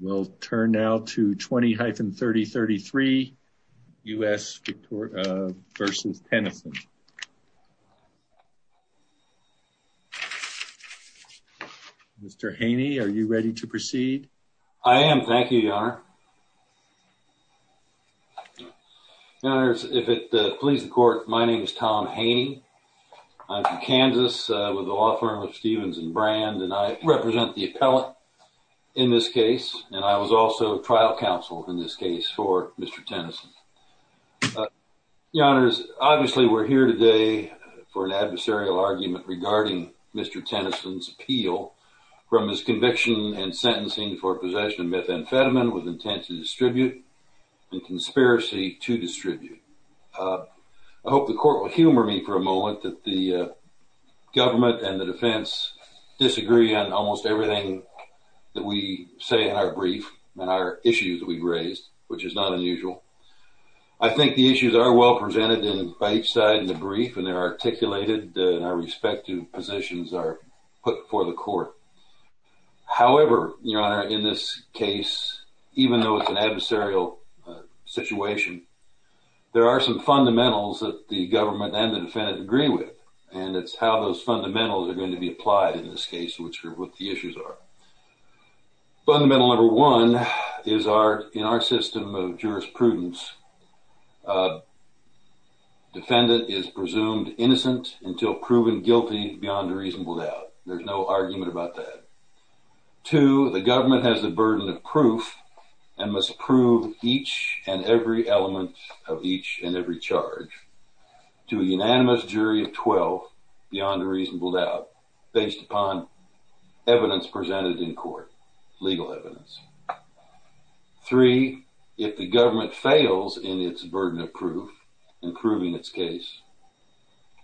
We'll turn now to 20-3033 U.S. v. Tennison. Mr. Haney, are you ready to proceed? I am, thank you, Your Honor. If it pleases the Court, my name is Tom Haney. I'm from Kansas, with the law firm of Stevens and Brand, and I represent the appellate in this case, and I was also trial counsel in this case for Mr. Tennison. Your Honors, obviously we're here today for an adversarial argument regarding Mr. Tennison's appeal from his conviction and sentencing for possession of methamphetamine with intent to distribute and conspiracy to distribute. I hope the Court will humor me for a moment that the government and the defense disagree on almost everything that we say in our brief and our issues we've raised, which is not unusual. I think the issues are well presented by each side in the brief, and they're articulated, and our respective positions are put before the Court. However, Your Honor, in this case, even though it's an adversarial situation, there are some fundamentals that the government and the defendant agree with, and it's how those fundamentals are going to be applied in this case, which are what the issues are. Fundamental number one is our, in our system of jurisprudence, defendant is presumed innocent until proven guilty beyond a reasonable doubt. There's no argument about that. Two, the government has the burden of proof and must prove each and every element of each and every charge to a unanimous jury of 12 beyond a reasonable doubt based upon evidence presented in court, legal evidence. Three, if the government fails in its burden of proof in proving its case,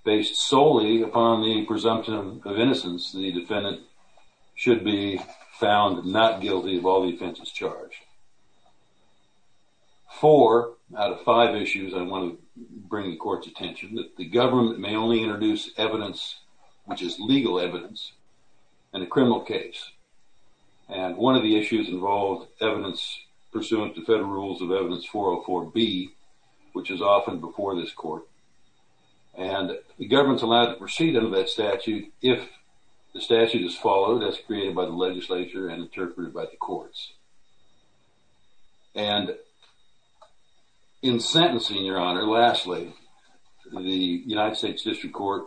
based solely upon the presumption of innocence, the defendant should be found not guilty of all the offenses charged. Four out of five issues I want to bring the Court's attention that the government may only introduce evidence, which is legal evidence, in a criminal case, and one of the issues involved evidence pursuant to Federal Rules of Evidence 404B, which is often before this Court, and the proceeding of that statute, if the statute is followed, as created by the legislature and interpreted by the courts. And in sentencing, Your Honor, lastly, the United States District Court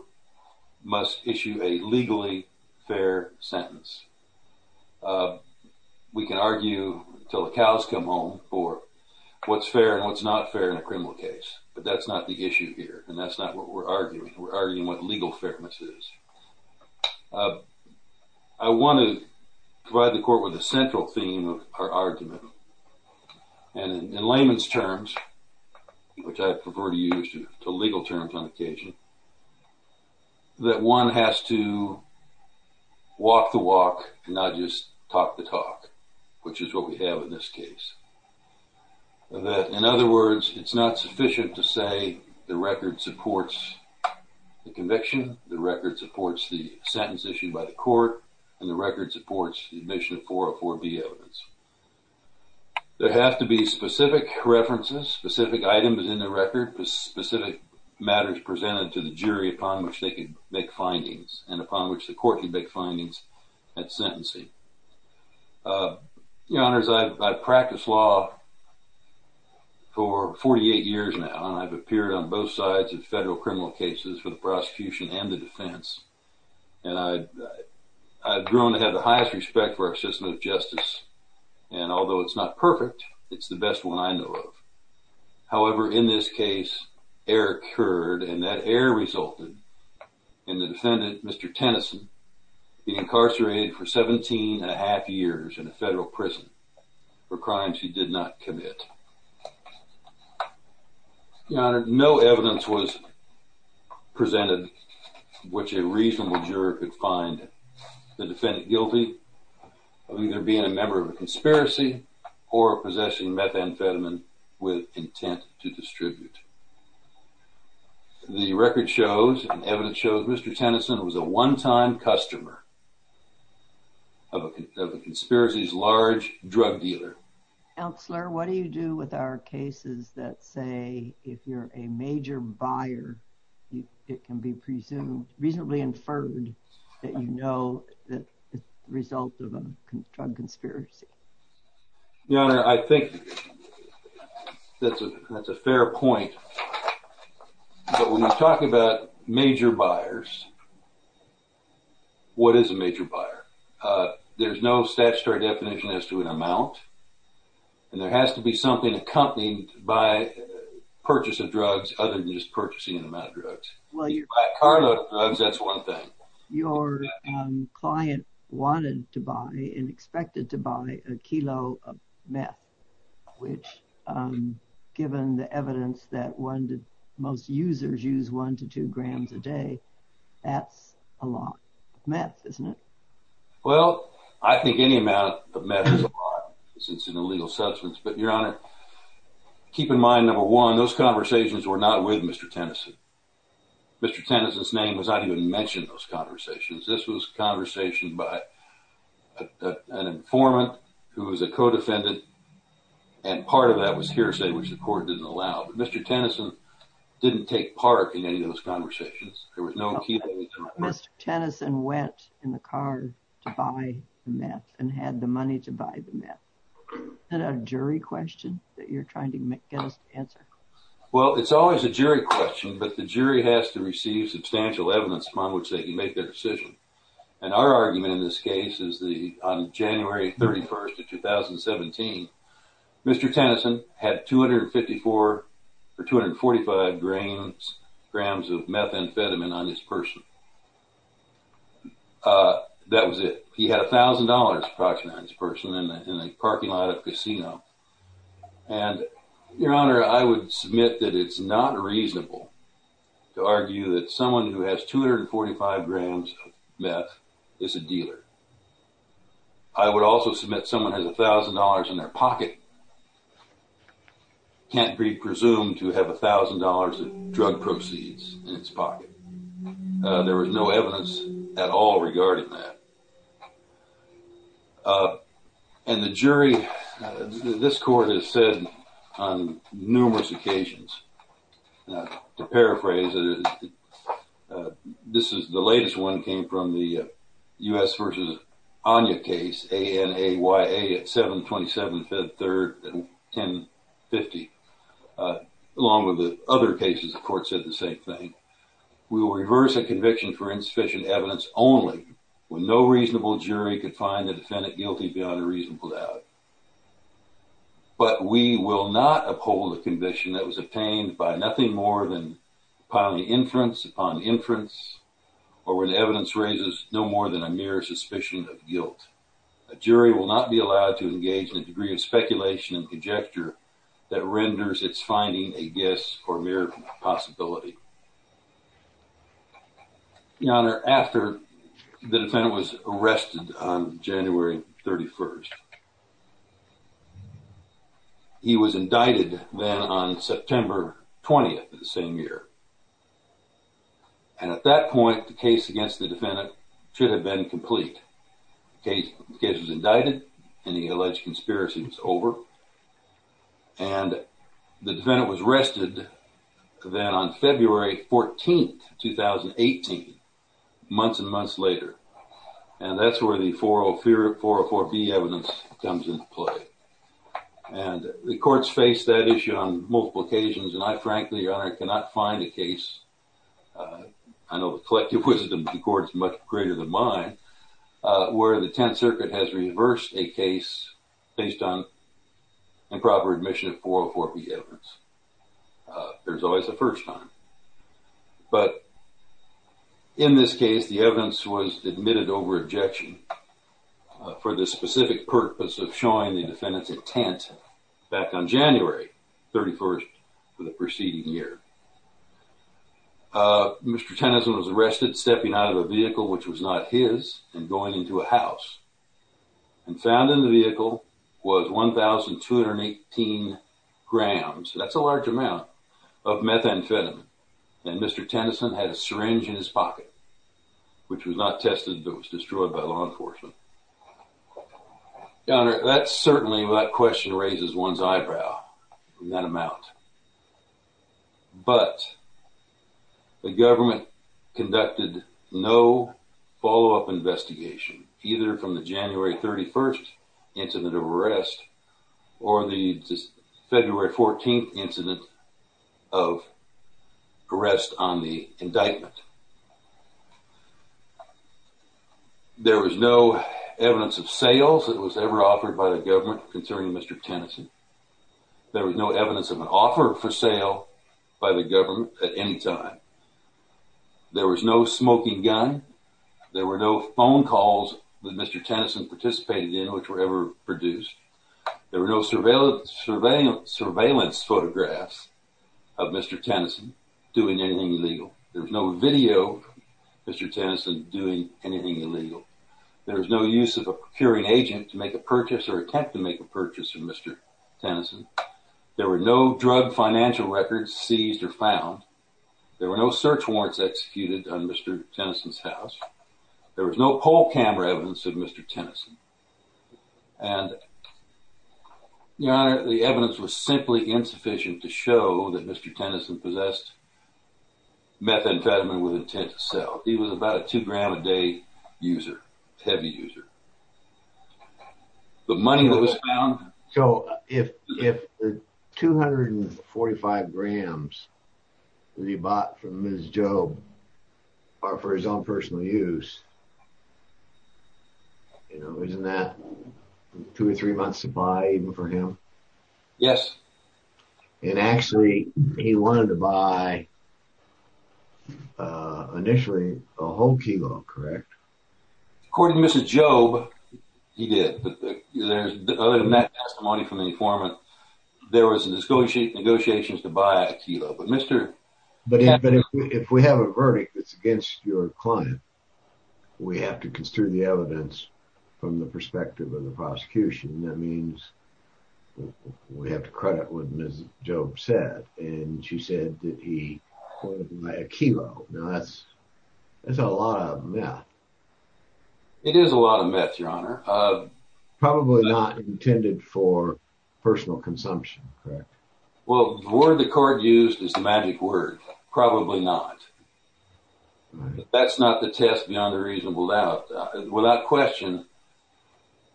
must issue a legally fair sentence. We can argue until the cows come home for what's fair and what's not fair in a criminal case, but that's not the issue here, and that's not what we're arguing. We're arguing what legal fairness is. I want to provide the Court with a central theme of our argument, and in layman's terms, which I prefer to use to legal terms on occasion, that one has to walk the walk and not just talk the talk, which is what we have in this case. That, in other words, it's not sufficient to say the record supports the conviction, the record supports the sentence issued by the Court, and the record supports the admission of 404B evidence. There have to be specific references, specific items in the record, specific matters presented to the jury upon which they can make findings, and upon which the Court can make findings at sentencing. Your Honors, I have 48 years now, and I've appeared on both sides of federal criminal cases for the prosecution and the defense, and I've grown to have the highest respect for our system of justice, and although it's not perfect, it's the best one I know of. However, in this case, error occurred, and that error resulted in the defendant, Mr. Tennyson, being incarcerated for 17 and a half years in a federal prison for crimes he did not commit. Your Honor, no evidence was presented which a reasonable juror could find the defendant guilty of either being a member of a conspiracy or possessing methamphetamine with intent to distribute. The record shows, and evidence shows, Mr. Tennyson was a one-time customer of a conspiracy's large drug dealer. Counselor, what do you do with our cases that say if you're a major buyer, it can be presumed, reasonably inferred, that you know the result of a drug conspiracy? Your Honor, I think that's a definition as to an amount, and there has to be something accompanied by purchase of drugs other than just purchasing an amount of drugs. If you buy a carload of drugs, that's one thing. Your client wanted to buy and expected to buy a kilo of meth, which given the evidence that most users use one to two grams a day, that's a lot of meth, isn't it? Well, I think any amount of meth is a lot since it's an illegal substance. But Your Honor, keep in mind, number one, those conversations were not with Mr. Tennyson. Mr. Tennyson's name was not even mentioned in those conversations. This was a conversation by an informant who was a co-defendant, and part of that was hearsay, which the Mr. Tennyson went in the car to buy the meth and had the money to buy the meth. Is that a jury question that you're trying to get us to answer? Well, it's always a jury question, but the jury has to receive substantial evidence upon which they can make their decision. And our argument in this case is the, on January 31st of 2017, Mr. Tennyson had 254 or 245 grams of meth amphetamine on his person. That was it. He had $1,000 approximately on his person in a parking lot of casino. And Your Honor, I would submit that it's not reasonable to argue that someone who has 245 grams of meth is a dealer. I would also submit someone has $1,000 in their pocket can't be presumed to have $1,000 of drug proceeds in his pocket. There was no evidence at all regarding that. And the jury, this court has said on numerous occasions, to paraphrase, this is the latest one came from the U.S. versus Anya case, A-N-A-Y-A at 7-27-10-50. Along with the other cases, the court said the same thing. We will reverse a conviction for insufficient evidence only when no reasonable jury could find the defendant guilty beyond a reasonable doubt. But we will not uphold a suspicion of guilt. A jury will not be allowed to engage in a degree of speculation and conjecture that renders its finding a guess or mere possibility. Your Honor, after the defendant was arrested on January 31st, he was indicted then on September 20th of the same year. And at that point, the case against the defendant should have been complete. The case was indicted and the alleged conspiracy was over. And the defendant was arrested then on February 14th, 2018, months and months later. And that's where the 404B evidence comes into play. And the courts faced that issue on January 31st. And I frankly, Your Honor, cannot find a case, I know the collective wisdom of the court is much greater than mine, where the Tenth Circuit has reversed a case based on improper admission of 404B evidence. There's always a first time. But in this case, the evidence was admitted over the preceding year. Mr. Tennyson was arrested stepping out of a vehicle which was not his and going into a house. And found in the vehicle was 1,218 grams. That's a large amount of methamphetamine. And Mr. Tennyson had a syringe in his pocket, which was not tested, but was destroyed by law But the government conducted no follow up investigation, either from the January 31st incident of arrest, or the February 14th incident of arrest on the by the government at any time. There was no smoking gun. There were no phone calls that Mr. Tennyson participated in, which were ever produced. There were no surveillance photographs of Mr. Tennyson doing anything illegal. There was no video of Mr. Tennyson doing anything illegal. There was no use of a found. There were no search warrants executed on Mr. Tennyson's house. There was no poll camera evidence of Mr. Tennyson. And your honor, the evidence was simply insufficient to show that Mr. Tennyson possessed methamphetamine with intent to sell. He was about a two gram a day user, heavy user. The money that was grams that he bought from Ms. Jobe for his own personal use. You know, isn't that two or three months to buy even for him? Yes. And actually, he wanted to initially a whole kilo, correct? According to Mrs. Jobe, he did. But other than that testimony from the informant, there was negotiations to buy a kilo. But if we have a kilo, that's a lot of meth. It is a lot of meth, your honor. Probably not intended for personal consumption, correct? Well, the word the court used is the magic word. Probably not. That's not the test beyond a reasonable doubt. Without question,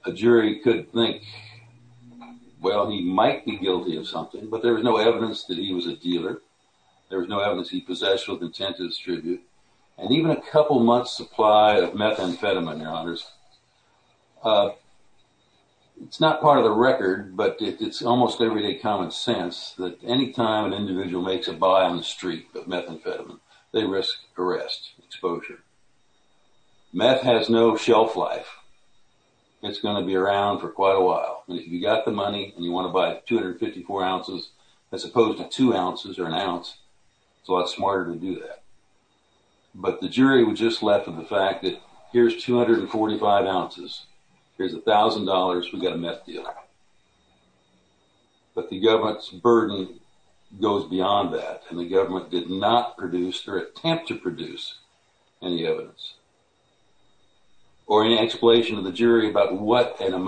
a jury could think, well, he might be guilty of something, but there was no evidence that he was a dealer. There was no evidence he possessed with intent to distribute. And even a couple months supply of methamphetamine, your honors. It's not part of the record, but it's almost everyday common sense that any time an individual makes a buy on the street of methamphetamine, they risk arrest, exposure. Meth has no shelf life. It's going to be around for quite a while. And if you got the money and you want to buy 254 ounces, as opposed to two ounces or an ounce, it's a lot smarter to do that. But the jury was just left with the fact that here's 245 ounces. Here's $1,000. We've got a meth dealer. But the And what an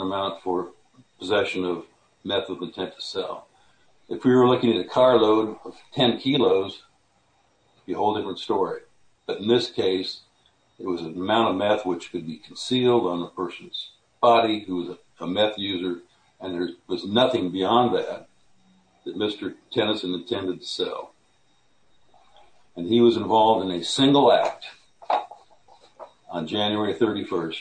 amount for possession of meth with intent to sell. If we were looking at a carload of 10 kilos, it would be a whole different story. But in this case, it was an amount of meth which could be concealed on a person's body who was a meth user. And there was nothing beyond that, that Mr. Tennyson intended to sell. And he was involved in a single act on January 31st.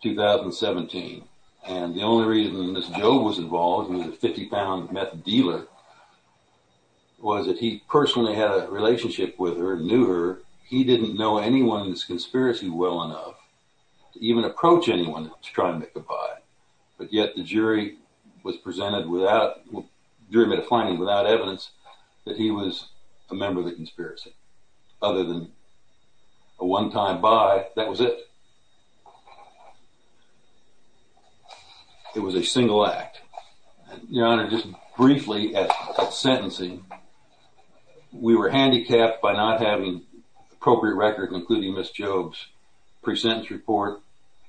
2017. And the only reason this Joe was involved with a 50 pound meth dealer was that he personally had a relationship with her, knew her. He didn't know anyone in this conspiracy well enough to even approach anyone to try and make a buy. But yet the jury was presented without jury made a finding without evidence that he was a member of the conspiracy other than a one time buy. That was it. It was a single act. Your Honor, just briefly at sentencing, we were handicapped by not having appropriate record, including Miss Job's present report,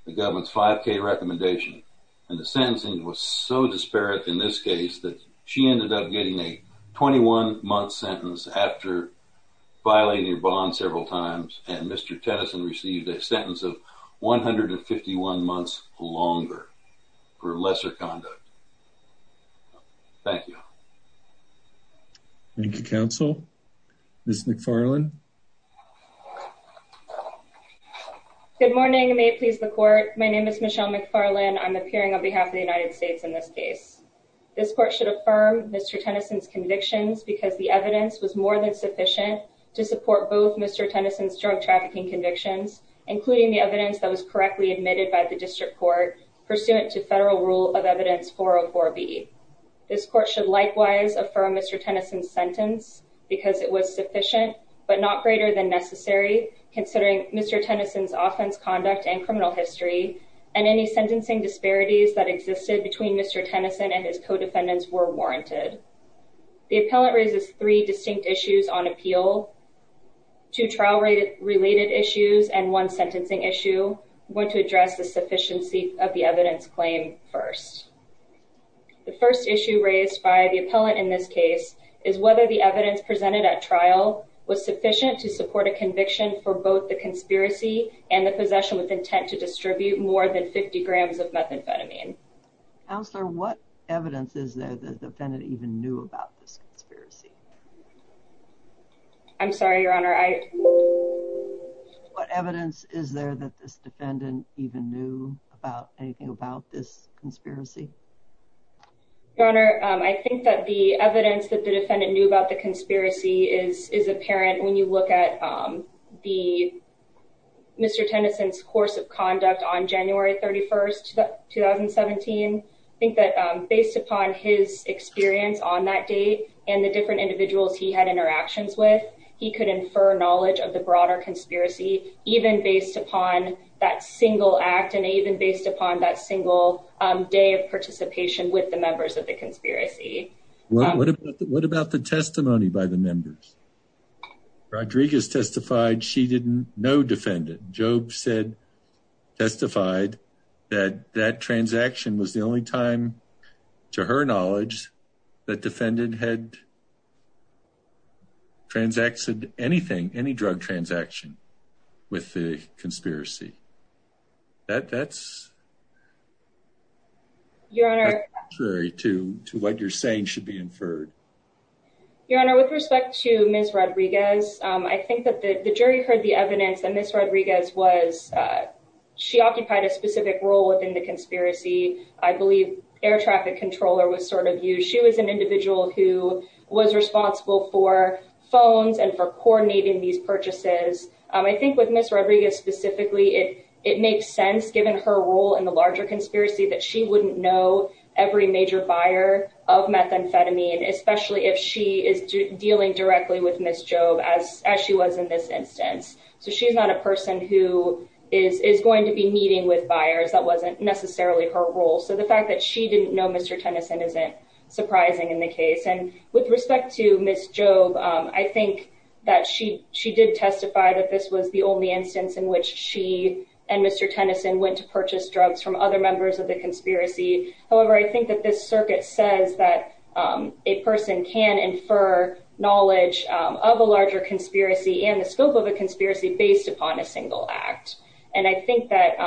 the government's five K recommendation, and the sentencing was so disparate in this case that she ended up getting a 21 month sentence after violating your bond several times. And Mr. Tennyson received a sentence of 151 months longer for lesser conduct. Thank you. Thank you, counsel. Miss McFarland. Good morning. May it please the court. My name is Michelle McFarland. I'm appearing on behalf of the United States in this case. This court should affirm Mr. Tennyson's convictions because the evidence was more than sufficient to support both Mr. Tennyson's drug trafficking convictions, including the evidence that was correctly admitted by the district court pursuant to federal rule of evidence. This court should likewise affirm Mr. Tennyson's sentence because it was sufficient but not greater than necessary considering Mr. Tennyson's offense conduct and criminal history and any sentencing disparities that existed between Mr. Tennyson and his co-defendants were warranted. The appellant raises three distinct issues on appeal to trial related issues and one sentencing issue. I'm going to address the sufficiency of the evidence claim first. The first issue raised by the appellant in this case is whether the evidence presented at trial was sufficient to support a conviction for both the conspiracy and the possession with intent to distribute more than 50 grams of methamphetamine. Counselor, what evidence is there that the defendant even knew about this conspiracy? I'm sorry, your honor. I what evidence is there that this defendant even knew about anything about this conspiracy? Your honor, I think that the evidence that the defendant knew about the conspiracy is is apparent when you look at the Mr. Tennyson's course of conduct on January 31st, 2017. I think that based upon his experience on that date and the different individuals he had interactions with, he could infer knowledge of the broader conspiracy even based upon that single act and even based upon that single day of participation with the members of the conspiracy. What about the testimony by the members? Rodriguez testified she didn't know defendant. Jobe said, testified that that transaction was the only time to her knowledge that defendant had transacted anything, any drug transaction with the conspiracy. That's contrary to what you're saying should be inferred. Your honor, with respect to Miss Rodriguez, I think that the jury heard the evidence that Miss Rodriguez was she occupied a specific role within the conspiracy. I believe air traffic controller was sort of you. She was an individual who was responsible for phones and for coordinating these purchases. I think with Miss Rodriguez specifically, it makes sense given her role in the larger conspiracy that she wouldn't know every major buyer of methamphetamine, especially if she is dealing directly with Miss Jobe as she was in this instance. So she's not a person who is going to be meeting with buyers. That wasn't necessarily her role. So the fact that she didn't know Mr. Tennyson isn't surprising in the case. With respect to Miss Jobe, I think that she she did testify that this was the only instance in which she and Mr. Tennyson went to purchase drugs from other members of the conspiracy. However, I think that this circuit says that a person can infer knowledge of a larger conspiracy and the scope of a conspiracy based upon a single act. And I think that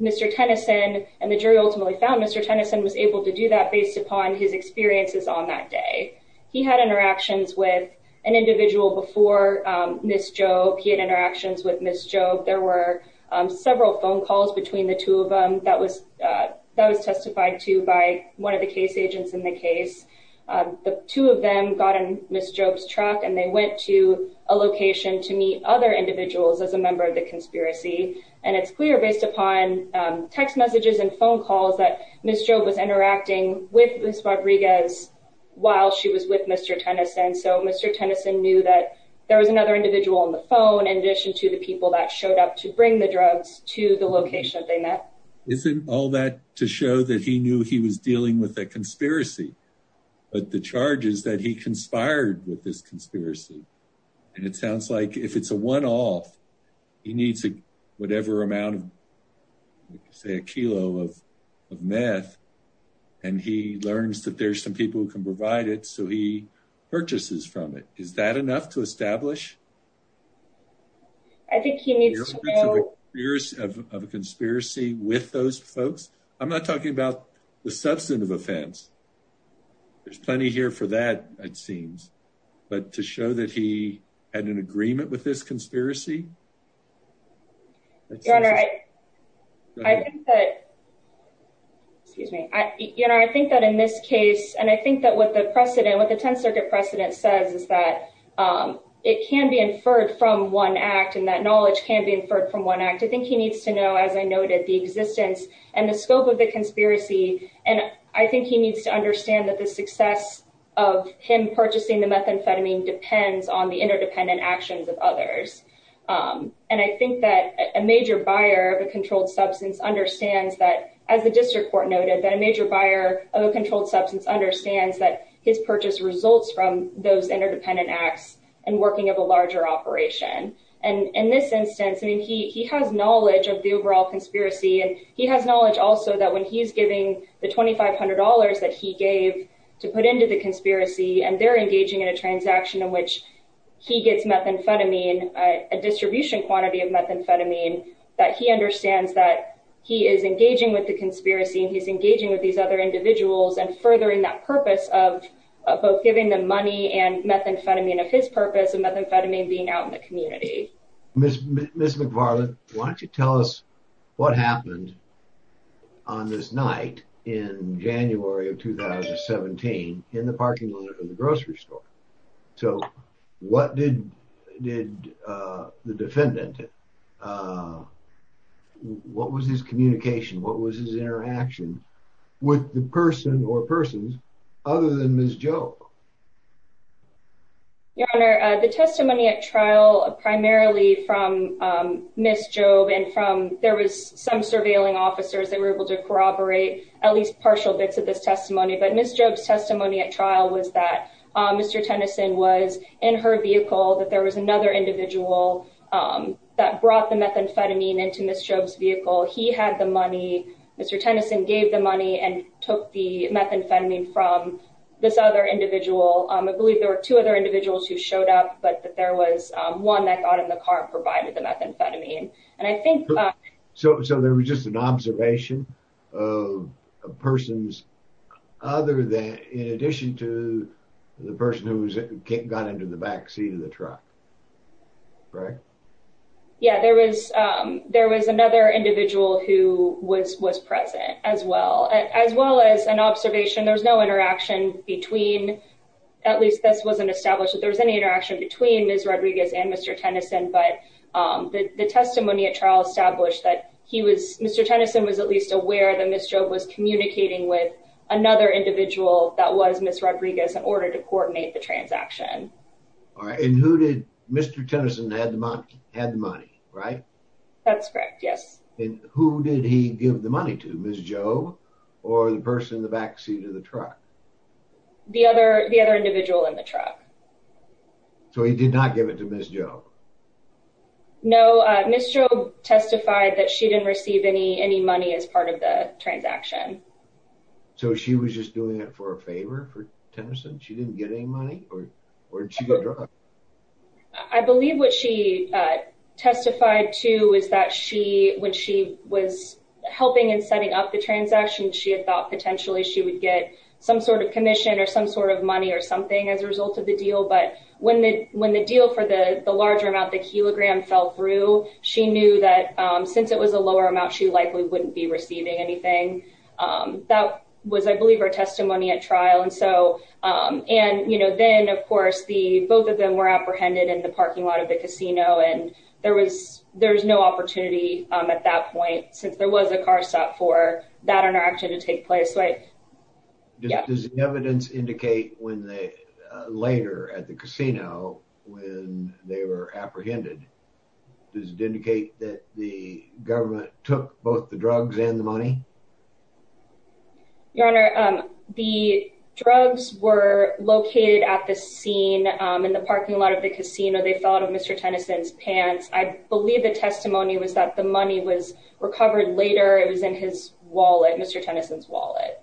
Mr. Tennyson and the jury ultimately found Mr. Tennyson was able to do that based upon his experiences on that day. He had interactions with an individual before Miss Jobe. He had interactions with Miss Jobe. There were several phone calls between the two of them that was that was testified to by one of the case agents in the case. The two of them got in Miss Jobe's truck and they went to a location to meet other individuals as a member of the conspiracy. And it's clear based upon text messages and phone calls that Miss Jobe was interacting with Miss Rodriguez while she was with Mr. Tennyson. So Mr. Tennyson knew that there was another individual on the phone in addition to the people that showed up to bring the drugs to the location that they met. Isn't all that to show that he knew he was dealing with a conspiracy, but the charge is that he conspired with this conspiracy. And it sounds like if it's a one off, he needs whatever amount of, say, a kilo of of meth. And he learns that there's some people who can provide it. So he purchases from it. Is that enough to establish? I think he needs years of conspiracy with those folks. I'm not talking about the substantive offense. There's plenty here for that, it seems. But to show that he had an agreement with this conspiracy. Your Honor, I think that in this case, and I think that what the precedent, what the 10th Circuit precedent says is that it can be inferred from one act and that knowledge can be inferred from one act. I think he needs to know, as I noted, the existence and the scope of the conspiracy. And I think he needs to understand that the success of him purchasing the methamphetamine depends on the interdependent actions of others. And I think that a major buyer of a controlled substance understands that, as the district court noted, that a major buyer of a controlled substance understands that his purchase results from those interdependent acts and working of a larger operation. And in this instance, I mean, he has knowledge of the overall conspiracy. And he has knowledge also that when he's giving the $2,500 that he gave to put into the conspiracy and they're engaging in a transaction in which he gets methamphetamine, a distribution quantity of methamphetamine, that he understands that he is engaging with the conspiracy. And he's engaging with these other individuals and furthering that purpose of both giving them money and methamphetamine of his purpose and methamphetamine being out in the community. Ms. McFarland, why don't you tell us what happened on this night in January of 2017 in the parking lot of the grocery store? So what did the defendant, what was his communication? What was his interaction with the person or persons other than Ms. Jobe? Your Honor, the testimony at trial, primarily from Ms. Jobe and from, there was some surveilling officers that were able to corroborate at least partial bits of this testimony. But Ms. Jobe's testimony at trial was that Mr. Tennyson was in her vehicle, that there was another individual that brought the methamphetamine into Ms. Jobe's vehicle. He had the money. Mr. Tennyson gave the money and took the methamphetamine from this other individual. I believe there were two other individuals who showed up, but there was one that got in the car and provided the methamphetamine. And I think. So there was just an observation of persons other than, in addition to the person who got into the backseat of the truck, right? Yeah, there was another individual who was present as well, as well as an observation. There was no interaction between, at least this wasn't established that there was any interaction between Ms. Rodriguez and Mr. Tennyson. But the testimony at trial established that he was, Mr. Tennyson was at least aware that Ms. Jobe was communicating with another individual that was Ms. Rodriguez in order to coordinate the transaction. All right. And who did Mr. Tennyson had the money, had the money, right? That's correct. Yes. And who did he give the money to, Ms. Jobe or the person in the backseat of the truck? The other, the other individual in the truck. So he did not give it to Ms. Jobe? No, Ms. Jobe testified that she didn't receive any, any money as part of the transaction. So she was just doing it for a favor for Tennyson? She didn't get any money or did she get drugged? I believe what she testified to is that she, when she was helping and setting up the transaction, she had thought potentially she would get some sort of commission or some sort of money or something as a result of the deal. But when the, when the deal for the larger amount, the kilogram fell through, she knew that since it was a lower amount, she likely wouldn't be receiving anything. That was, I believe, her testimony at trial. And so, and, you know, then, of course, the, both of them were apprehended in the parking lot of the casino. And there was, there was no opportunity at that point since there was a car stop for that interaction to take place, right? Does the evidence indicate when they, later at the casino, when they were apprehended, does it indicate that the government took both the drugs and the money? Your Honor, the drugs were located at the scene in the parking lot of the casino. They fell out of Mr. Tennyson's pants. I believe the testimony was that the money was recovered later. It was in his wallet, Mr. Tennyson's wallet.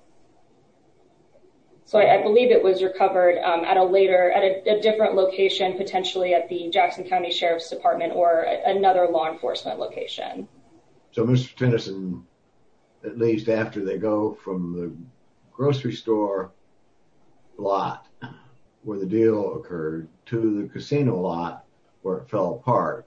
So I believe it was recovered at a later, at a different location, potentially at the Jackson County Sheriff's Department or another law enforcement location. So Mr. Tennyson, at least after they go from the grocery store lot where the deal occurred to the casino lot where it fell apart,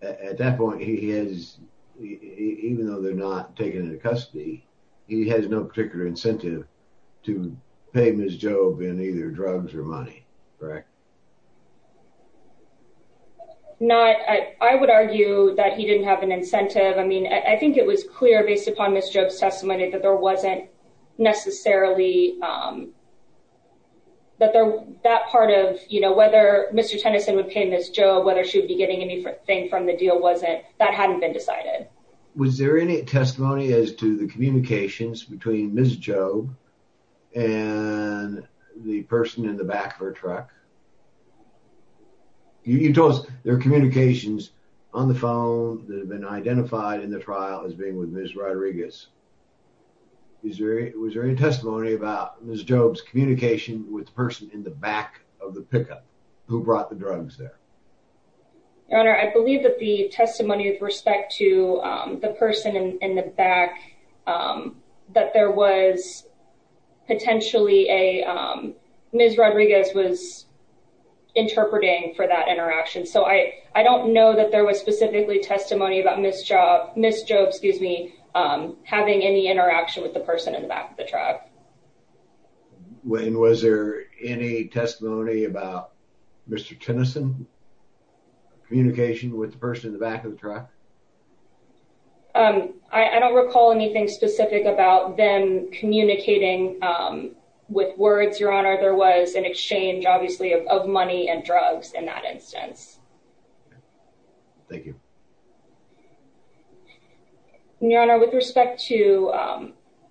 at that point he has, even though they're not taken into custody, he has no particular incentive to pay Ms. Jobe in either drugs or money, correct? Not, I would argue that he didn't have an incentive. I mean, I think it was clear based upon Ms. Jobe's testimony that there wasn't necessarily, that there, that part of, you know, whether Mr. Tennyson would pay Ms. Jobe, whether she would be getting anything from the deal wasn't, that hadn't been decided. Was there any testimony as to the communications between Ms. Jobe and the person in the back of her truck? You told us there are communications on the phone that have been identified in the trial as being with Ms. Rodriguez. Is there, was there any testimony about Ms. Jobe's communication with the person in the back of the pickup who brought the drugs there? Your Honor, I believe that the testimony with respect to the person in the back, that there was potentially a, Ms. Rodriguez was interpreting for that interaction. So I, I don't know that there was specifically testimony about Ms. Jobe, Ms. Jobe, excuse me, having any interaction with the person in the back of the truck. And was there any testimony about Mr. Tennyson's communication with the person in the back of the truck? I don't recall anything specific about them communicating with words, Your Honor. There was an exchange, obviously, of money and drugs in that instance. Thank you. Your Honor, with respect to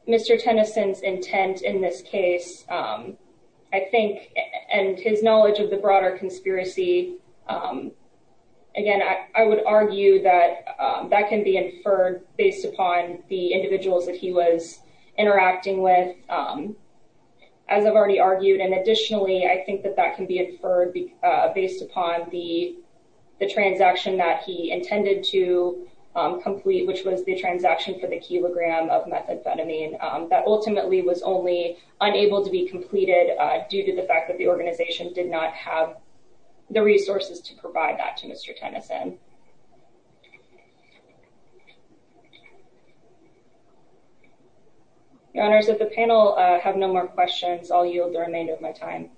Mr. Tennyson's intent in this case, I think, and his knowledge of the broader conspiracy, again, I would argue that that can be inferred based upon the individuals that he was interacting with. As I've already argued, and additionally, I think that that can be inferred based upon the transaction that he intended to complete, which was the transaction for the kilogram of methamphetamine, that ultimately was only unable to be completed due to the fact that the organization did not have the resources to provide that to Mr. Tennyson. Your Honor, if the panel have no more questions, I'll yield the remainder of my time.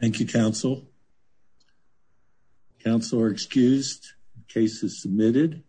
Thank you, counsel. Counsel are excused. Case is submitted.